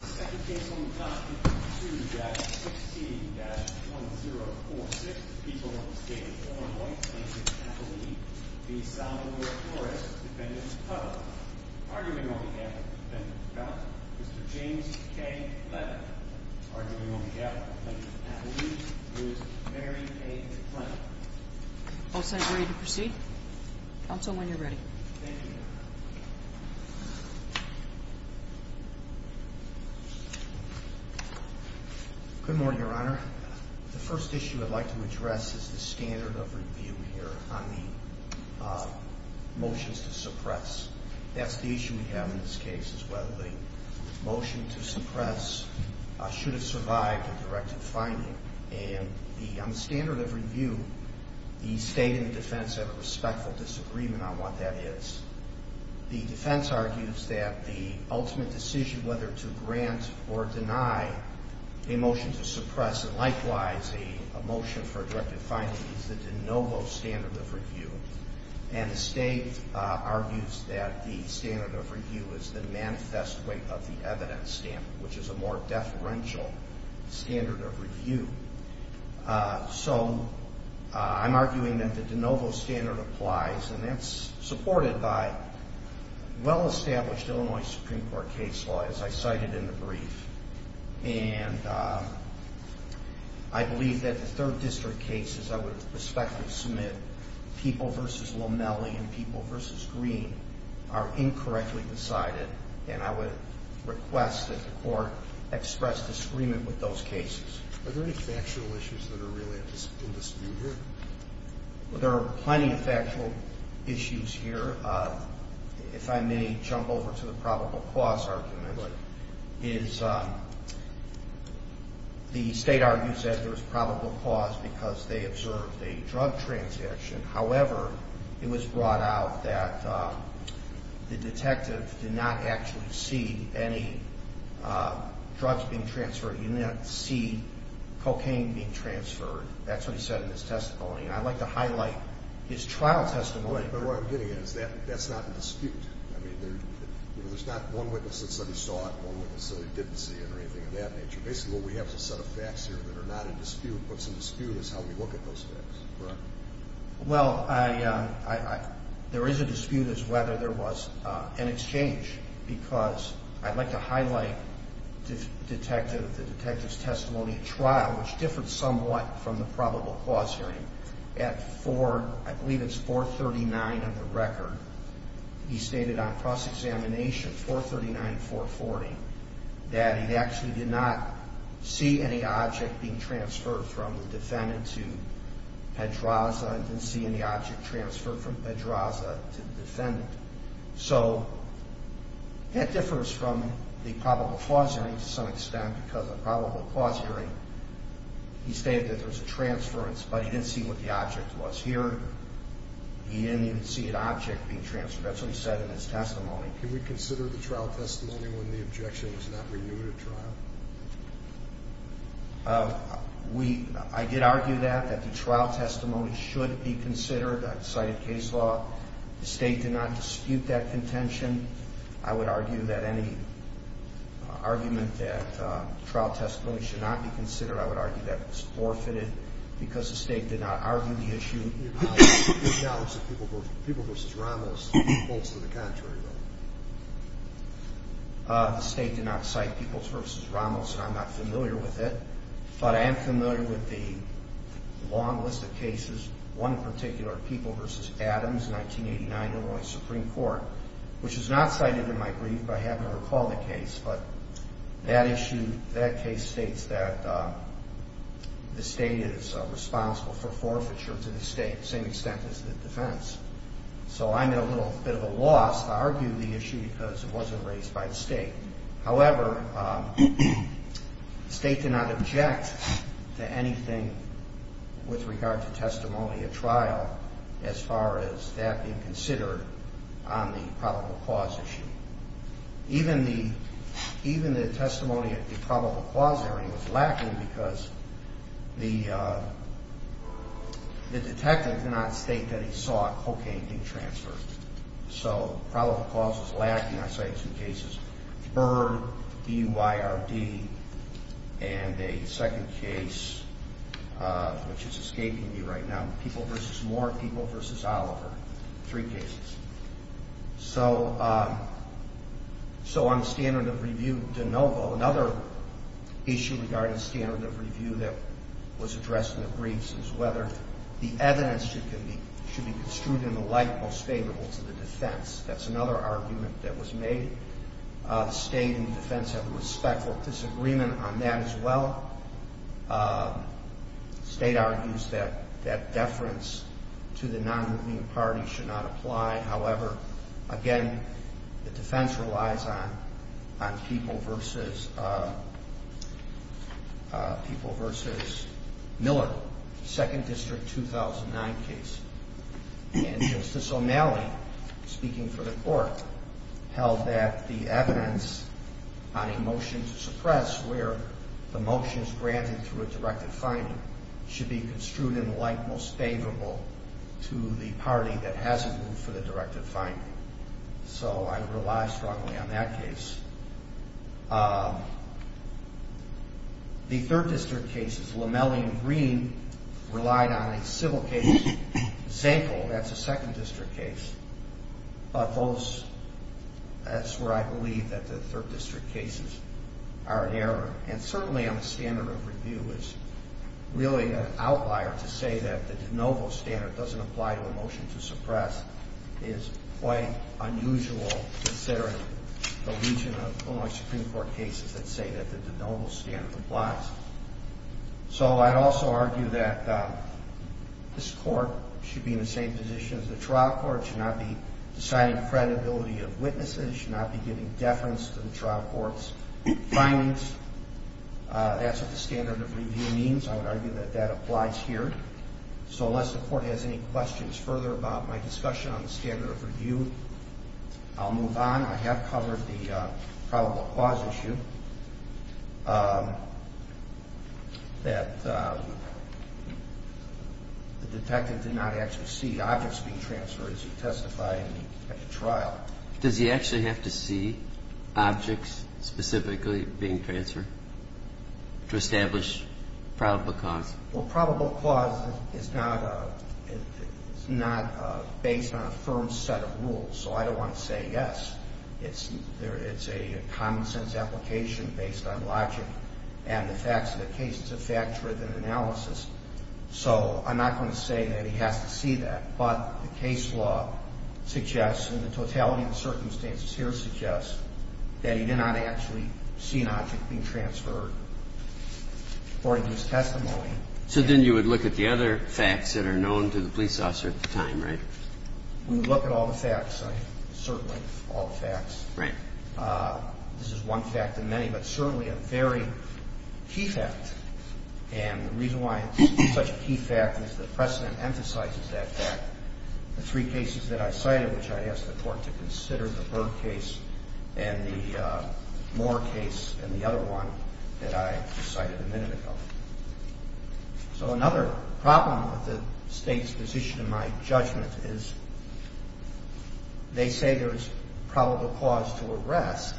The second case on the clock is 22-6C-1046. The people of the state of Illinois, Plainton, Appalachia, v. Salvador Flores, Defendant Tuttle. Arguing on behalf of the defendant's counsel, Mr. James K. Levin. Arguing on behalf of Plainton, Appalachia, v. Mary A. Clinton. Both sides ready to proceed? Counsel, when you're ready. Thank you, Your Honor. Good morning, Your Honor. The first issue I'd like to address is the standard of review here on the motions to suppress. That's the issue we have in this case as well. The motion to suppress should have survived a directed finding. And on the standard of review, the state and the defense have a respectful disagreement on what that is. The defense argues that the ultimate decision whether to grant or deny a motion to suppress, and likewise a motion for a directed finding, is the de novo standard of review. And the state argues that the standard of review is the manifest way of the evidence stamp, which is a more deferential standard of review. So I'm arguing that the de novo standard applies, and that's supported by well-established Illinois Supreme Court case law, as I cited in the brief. And I believe that the third district cases I would respectfully submit, People v. Lomelli and People v. Green, are incorrectly decided. And I would request that the court express disagreement with those cases. Are there any factual issues that are really in dispute here? Well, there are plenty of factual issues here. If I may jump over to the probable cause argument, is the state argues that there's probable cause because they observed a drug transaction. However, it was brought out that the detective did not actually see any drugs being transferred. He did not see cocaine being transferred. That's what he said in his testimony. And I'd like to highlight his trial testimony. But what I'm getting at is that's not in dispute. I mean, there's not one witness that said he saw it and one witness said he didn't see it or anything of that nature. Basically, what we have is a set of facts here that are not in dispute. What's in dispute is how we look at those facts. Well, there is a dispute as to whether there was an exchange. Because I'd like to highlight the detective's testimony at trial, which differed somewhat from the probable cause hearing. At 4, I believe it's 439 of the record, he stated on cross-examination, 439, 440, that he actually did not see any object being transferred from the defendant to Pedraza and didn't see any object transferred from Pedraza to the defendant. So that differs from the probable cause hearing to some extent because the probable cause hearing, he stated that there was a transference, but he didn't see what the object was here. He didn't even see an object being transferred. That's what he said in his testimony. Can we consider the trial testimony when the objection was not renewed at trial? I did argue that, that the trial testimony should be considered. I cited case law. The State did not dispute that contention. I would argue that any argument that trial testimony should not be considered, I would argue that it was forfeited because the State did not argue the issue. The State did not cite Peebles v. Ramos, and I'm not familiar with it, but I am familiar with the long list of cases, one in particular, Peebles v. Adams, 1989, Illinois Supreme Court, which is not cited in my brief, but I happen to recall the case. But that issue, that case states that the State is responsible for forfeiture to the State to the same extent as the defense. So I'm at a little bit of a loss to argue the issue because it wasn't raised by the State. However, the State did not object to anything with regard to testimony at trial as far as that being considered on the probable cause issue. Even the testimony at the probable cause area was lacking because the detective did not state that he saw cocaine being transferred. So probable cause was lacking. I cited two cases, Byrd, B-Y-R-D, and a second case, which is escaping me right now, Peebles v. Moore, Peebles v. Oliver, three cases. So on standard of review de novo, another issue regarding standard of review that was addressed in the briefs is whether the evidence should be construed in the light most favorable to the defense. That's another argument that was made. The State and the defense have a respectful disagreement on that as well. The State argues that deference to the non-moving party should not apply. However, again, the defense relies on Peebles v. Miller, 2nd District, 2009 case. And Justice O'Malley, speaking for the Court, held that the evidence on a motion to suppress where the motion is granted through a directive finding should be construed in the light most favorable to the party that has a move for the directive finding. So I rely strongly on that case. The 3rd District cases, O'Malley and Green relied on a civil case. Zankle, that's a 2nd District case. But those, that's where I believe that the 3rd District cases are an error. And certainly on the standard of review is really an outlier to say that the de novo standard doesn't apply to a motion to suppress is quite unusual considering the region of Illinois Supreme Court cases that say that the de novo standard applies. So I'd also argue that this Court should be in the same position as the trial court, should not be deciding the credibility of witnesses, should not be giving deference to the trial court's findings. That's what the standard of review means. I would argue that that applies here. So unless the Court has any questions further about my discussion on the standard of review, I'll move on. I have covered the probable cause issue that the detective did not actually see objects being transferred as he testified at the trial. Does he actually have to see objects specifically being transferred to establish probable cause? Well, probable cause is not based on a firm set of rules. So I don't want to say yes. It's a common sense application based on logic and the facts of the case. It's a fact-driven analysis. So I'm not going to say that he has to see that. But the case law suggests and the totality of the circumstances here suggests that he did not actually see an object being transferred according to his testimony. So then you would look at the other facts that are known to the police officer at the time, right? We would look at all the facts, certainly all the facts. Right. This is one fact in many, but certainly a very key fact. And the reason why it's such a key fact is the precedent emphasizes that fact. The three cases that I cited, which I asked the court to consider, the Burke case and the Moore case and the other one that I cited a minute ago. So another problem with the state's position in my judgment is they say there is probable cause to arrest.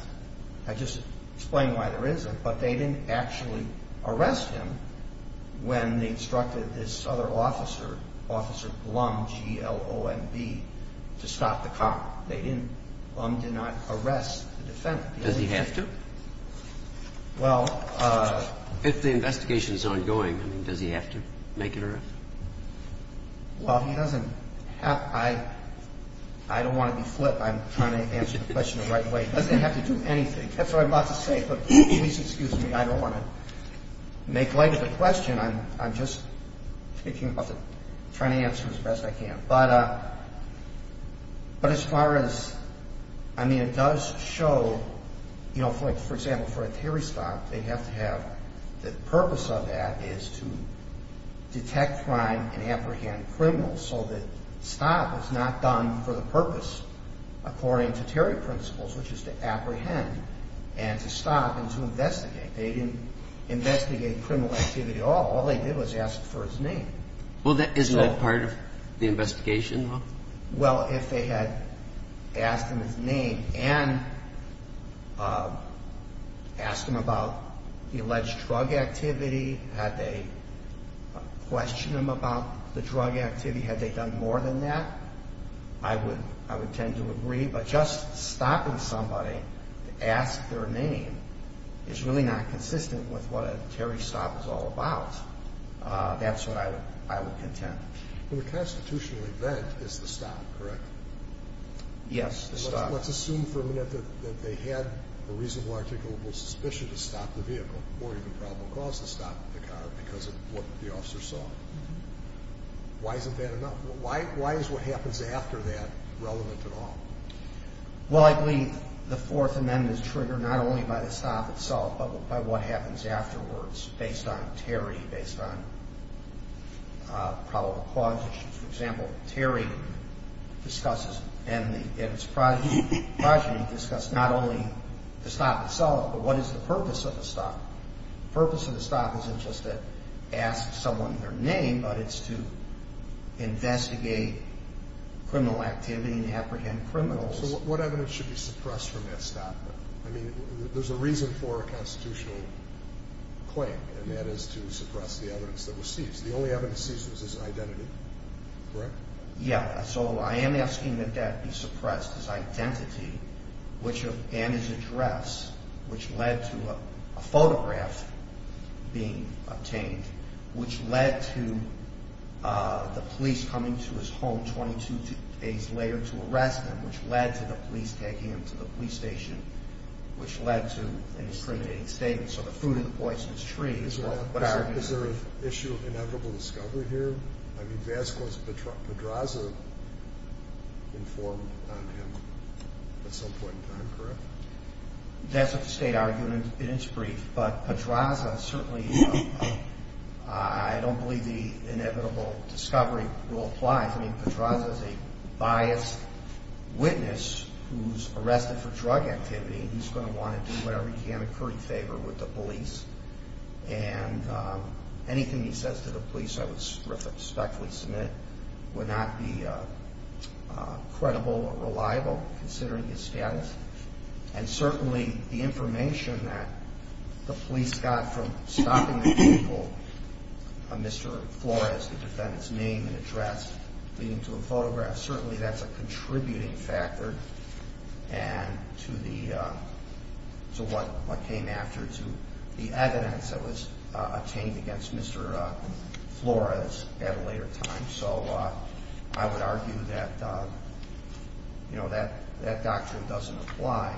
I just explained why there isn't, but they didn't actually arrest him when they instructed this other officer, Officer Blum, G-L-O-M-B, to stop the car. They didn't. Blum did not arrest the defendant. Does he have to? Well... If the investigation is ongoing, does he have to make an arrest? Well, he doesn't have to. I don't want to be flip. I'm trying to answer the question the right way. He doesn't have to do anything. That's what I'm about to say. But please excuse me. I don't want to make light of the question. I'm just trying to answer as best I can. But as far as, I mean, it does show, you know, for example, for a Terry stop, they have to have the purpose of that is to detect crime and apprehend criminals so that stop is not done for the purpose according to Terry principles, which is to apprehend and to stop and to investigate. They didn't investigate criminal activity at all. All they did was ask for his name. Well, isn't that part of the investigation? Well, if they had asked him his name and asked him about the alleged drug activity, had they questioned him about the drug activity, had they done more than that, I would tend to agree. But just stopping somebody to ask their name is really not consistent with what a Terry stop is all about. That's what I would contend. Well, the constitutional event is the stop, correct? Yes, the stop. Let's assume for a minute that they had a reasonable articulable suspicion to stop the vehicle or even probable cause to stop the car because of what the officer saw. Why isn't that enough? Why is what happens after that relevant at all? Well, I believe the Fourth Amendment is triggered not only by the stop itself but by what happens afterwards based on Terry, based on probable cause issues. For example, Terry discusses and its progeny discuss not only the stop itself but what is the purpose of the stop. The purpose of the stop isn't just to ask someone their name, but it's to investigate criminal activity and apprehend criminals. So what evidence should be suppressed from that stop? I mean, there's a reason for a constitutional claim, and that is to suppress the evidence that was seized. The only evidence seized was his identity, correct? Yes. So I am asking that that be suppressed, his identity and his address, which led to a photograph being obtained, which led to the police coming to his home 22 days later to arrest him, which led to the police taking him to the police station, which led to an incriminating statement. So the fruit of the poisonous tree is what I argue is the proof. Is there an issue of inevitable discovery here? I mean, Vasquez, Pedraza informed on him at some point in time, correct? That's what the state argued in its brief. But Pedraza certainly, I don't believe the inevitable discovery rule applies. I mean, Pedraza is a biased witness who's arrested for drug activity. He's going to want to do whatever he can to curry favor with the police. And anything he says to the police I would respectfully submit would not be credible or reliable considering his status. And certainly the information that the police got from stopping the vehicle, Mr. Flores, the defendant's name and address, leading to a photograph, certainly that's a contributing factor to what came after, to the evidence that was obtained against Mr. Flores at a later time. So I would argue that that doctrine doesn't apply.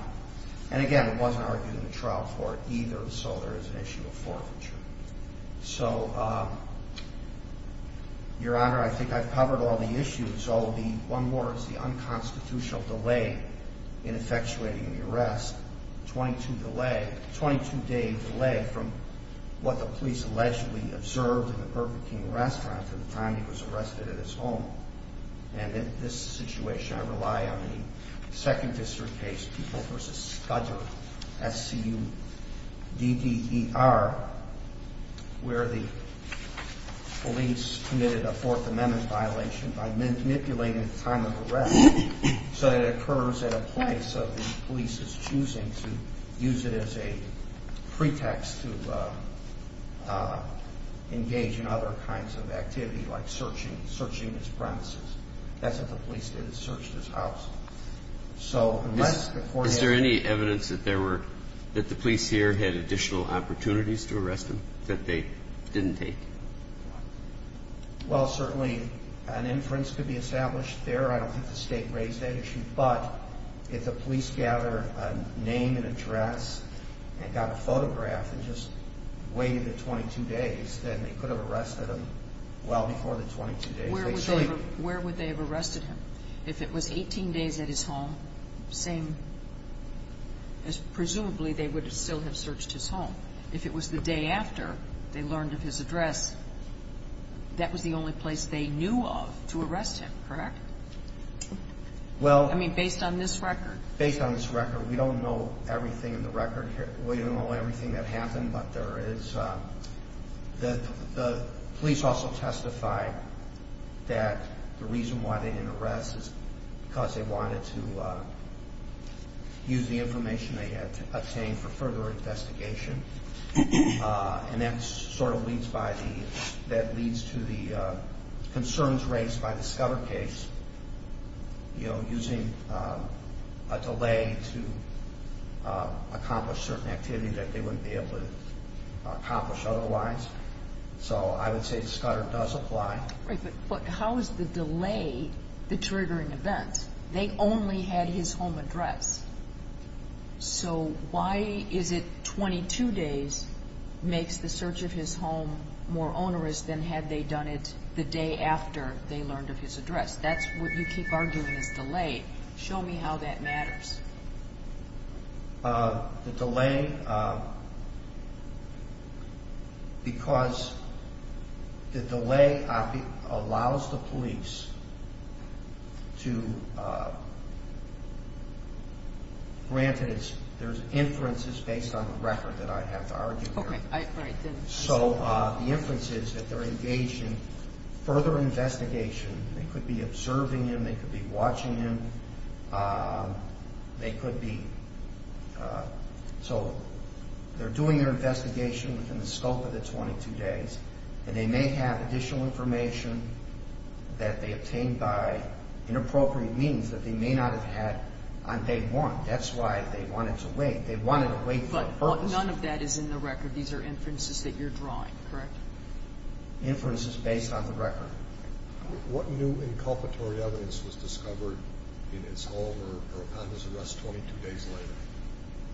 And again, it wasn't argued in a trial court either, so there is an issue of forfeiture. So, Your Honor, I think I've covered all the issues. One more is the unconstitutional delay in effectuating the arrest, a 22-day delay from what the police allegedly observed in the Burger King restaurant at the time he was arrested at his home. And in this situation, I rely on the Second District case, People v. Scudder, S-C-U-D-D-E-R, where the police committed a Fourth Amendment violation by manipulating the time of arrest so that it occurs at a place where there was a delay in effectuating the arrest. I think it's a matter of the police's choosing to use it as a pretext to engage in other kinds of activity, like searching his premises. That's what the police did, is search his house. So unless the court has to do that. Is there any evidence that there were – that the police here had additional opportunities to arrest him that they didn't take? Well, certainly, an inference could be established there. I don't think the State raised that issue. But if the police gathered a name and address and got a photograph and just waited the 22 days, then they could have arrested him well before the 22 days. Where would they have arrested him? If it was 18 days at his home, presumably they would still have searched his home. If it was the day after they learned of his address, that was the only place they knew of to arrest him, correct? I mean, based on this record. Based on this record. We don't know everything in the record here. We don't know everything that happened, but there is – the police also testified that the reason why they didn't arrest is because they wanted to use the information they had to obtain for further investigation. And that sort of leads by the – that leads to the concerns raised by the Scudder case, you know, using a delay to accomplish certain activities that they wouldn't be able to accomplish otherwise. So I would say Scudder does apply. But how is the delay the triggering event? They only had his home address. So why is it 22 days makes the search of his home more onerous than had they done it the day after they learned of his address? That's what you keep arguing is delay. Show me how that matters. The delay – because the delay allows the police to – granted there's inferences based on the record that I have to argue here. So the inference is that they're engaged in further investigation. They could be observing him. They could be watching him. They could be – so they're doing their investigation within the scope of the 22 days, and they may have additional information that they obtained by inappropriate means that they may not have had on day one. That's why they wanted to wait. They wanted to wait for a purpose. But none of that is in the record. These are inferences that you're drawing, correct? Inferences based on the record. What new inculpatory evidence was discovered in his home or upon his arrest 22 days later?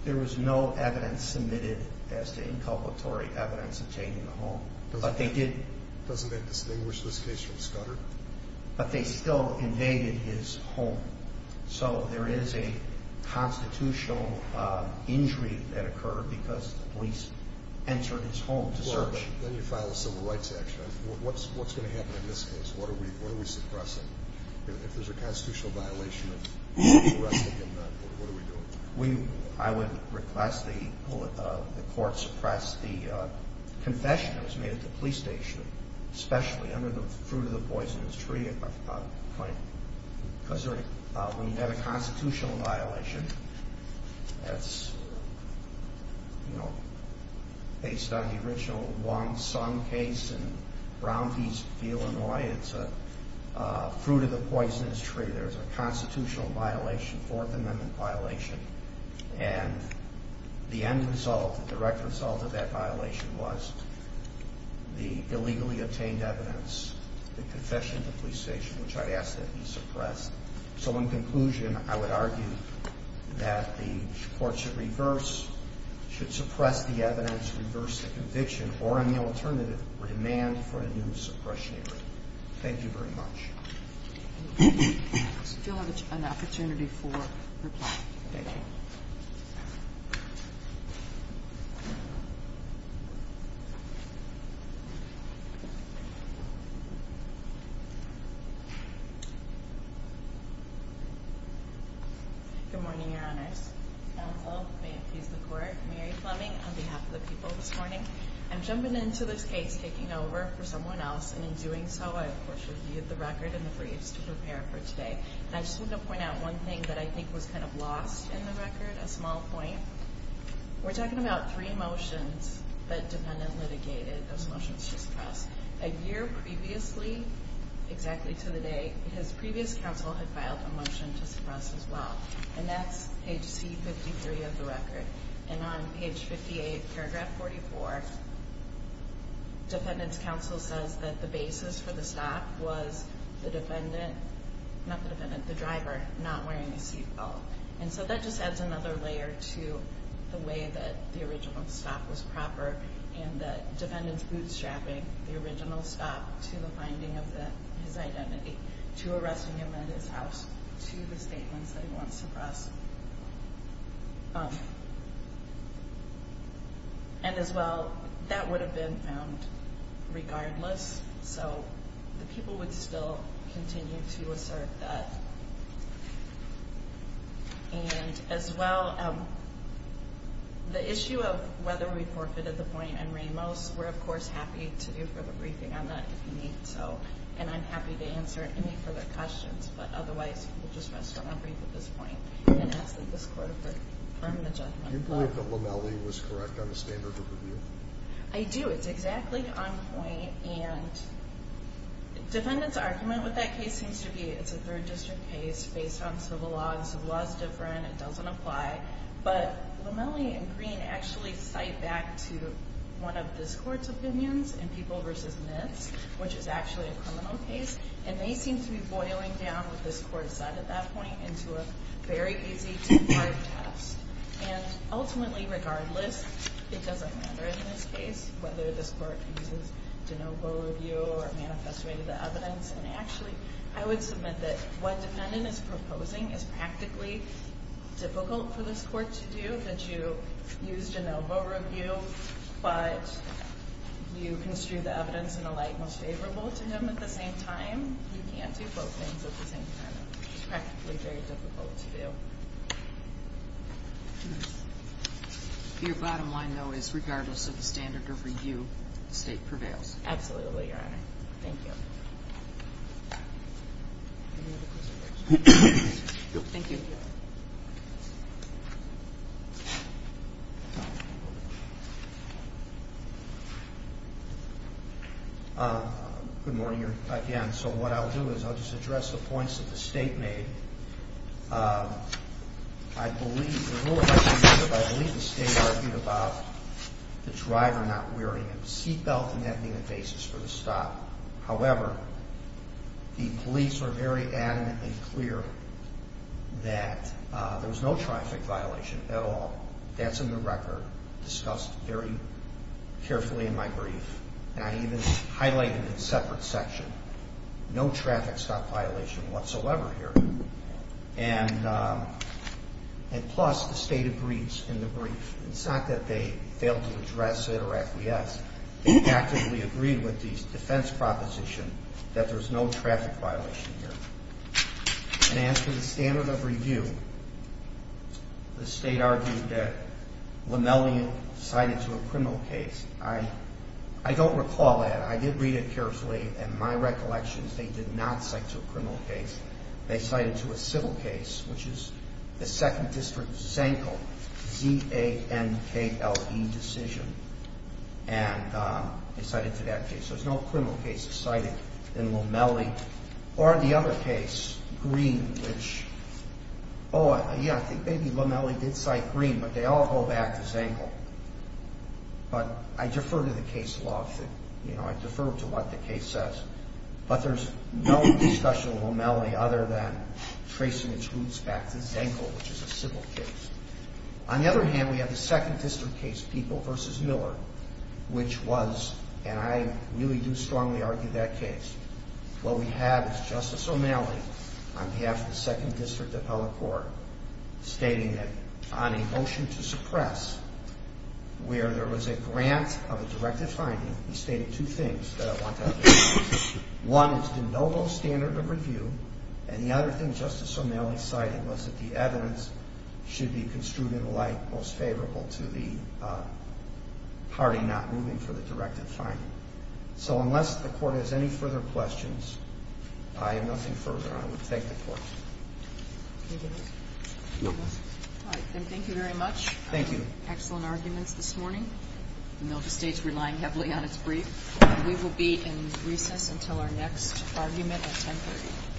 There was no evidence submitted as to inculpatory evidence obtaining the home. But they did – Doesn't that distinguish this case from Scudder? But they still invaded his home. So there is a constitutional injury that occurred because the police entered his home to search. Then you file a civil rights action. What's going to happen in this case? What are we suppressing? If there's a constitutional violation of arresting him, what are we doing? I would request the court suppress the confession that was made at the police station, especially under the fruit-of-the-poisonous-tree claim. Because when you have a constitutional violation, that's based on the original Wong Sung case in Brownfield, Illinois. It's a fruit-of-the-poisonous-tree. There's a constitutional violation, Fourth Amendment violation. And the end result, the direct result of that violation was the illegally obtained evidence, the confession at the police station, which I'd ask that be suppressed. So in conclusion, I would argue that the court should reverse – should suppress the evidence, reverse the conviction, or on the alternative, demand for a new suppression agreement. Thank you very much. I still have an opportunity for reply. Thank you. Good morning, Your Honors. Counsel, may it please the Court, Mary Fleming on behalf of the people this morning. I'm jumping into this case, taking over for someone else, and in doing so I, of course, reviewed the record and the briefs to prepare for today. And I just wanted to point out one thing that I think was kind of lost in the record, a small point. We're talking about three motions that defendant litigated. Those motions should suppress. A year previously, exactly to the day, his previous counsel had filed a motion to suppress as well, and that's page C53 of the record. And on page 58, paragraph 44, defendant's counsel says that the basis for the stop was the defendant – not the defendant, the driver not wearing a seat belt. And so that just adds another layer to the way that the original stop was proper and the defendant's bootstrapping the original stop to the finding of his identity, to arresting him at his house, to the statements that he wants suppressed. And as well, that would have been found regardless, so the people would still continue to assert that. And as well, the issue of whether we forfeited the point in Ramos, we're, of course, happy to do further briefing on that if you need to. And I'm happy to answer any further questions, but otherwise we'll just rest on our brief at this point and ask that this Court affirm the judgment. Do you believe that Lomelli was correct on the standard of review? I do. It's exactly on point. And defendant's argument with that case seems to be it's a third district case based on civil law, and civil law is different, it doesn't apply. But Lomelli and Green actually cite back to one of this Court's opinions in People v. Myths, which is actually a criminal case, and they seem to be boiling down what this Court said at that point into a very easy ten-part test. And ultimately, regardless, it doesn't matter in this case whether this Court uses de novo review or manifested the evidence. And actually, I would submit that what defendant is proposing is practically difficult for this Court to do, that you use de novo review, but you construe the evidence in a light most favorable to him at the same time. You can't do both things at the same time. It's practically very difficult to do. Your bottom line, though, is regardless of the standard of review, the State prevails. Absolutely, Your Honor. Thank you. Good morning again. So what I'll do is I'll just address the points that the State made. I believe, the rule of argumentative, I believe the State argued about the driver not wearing a seatbelt and that being the basis for the stop. However, the police were very adamantly clear that there was no traffic violation at all. That's in the record, discussed very carefully in my brief. And I even highlighted in a separate section, no traffic stop violation whatsoever here. And plus, the State agrees in the brief. It's not that they failed to address it or acquiesce. They actively agreed with the defense proposition that there's no traffic violation here. And as for the standard of review, the State argued that Lamellian cited to a criminal case. I don't recall that. I did read it carefully, and my recollection is they did not cite to a criminal case. They cited to a civil case, which is the 2nd District Zankle, Z-A-N-K-L-E decision. And they cited to that case. There's no criminal case cited in Lamelli. Or the other case, Green, which, oh, yeah, I think maybe Lamelli did cite Green, but they all go back to Zankle. But I defer to the case law. I defer to what the case says. But there's no discussion of Lamelli other than tracing its roots back to Zankle, which is a civil case. On the other hand, we have the 2nd District case, People v. Miller, which was, and I really do strongly argue that case. What we have is Justice Lamelli, on behalf of the 2nd District Appellate Court, stating that on a motion to suppress, where there was a grant of a directive finding, he stated two things that I want to underline. One is that no low standard of review. And the other thing Justice Lamelli cited was that the evidence should be construed in the light most favorable to the party not moving for the directive finding. So unless the Court has any further questions, I have nothing further. I would thank the Court. Anything else? No. All right. Then thank you very much. Thank you. Excellent arguments this morning. The Milva State's relying heavily on its brief. And we will be in recess until our next argument at 10.30.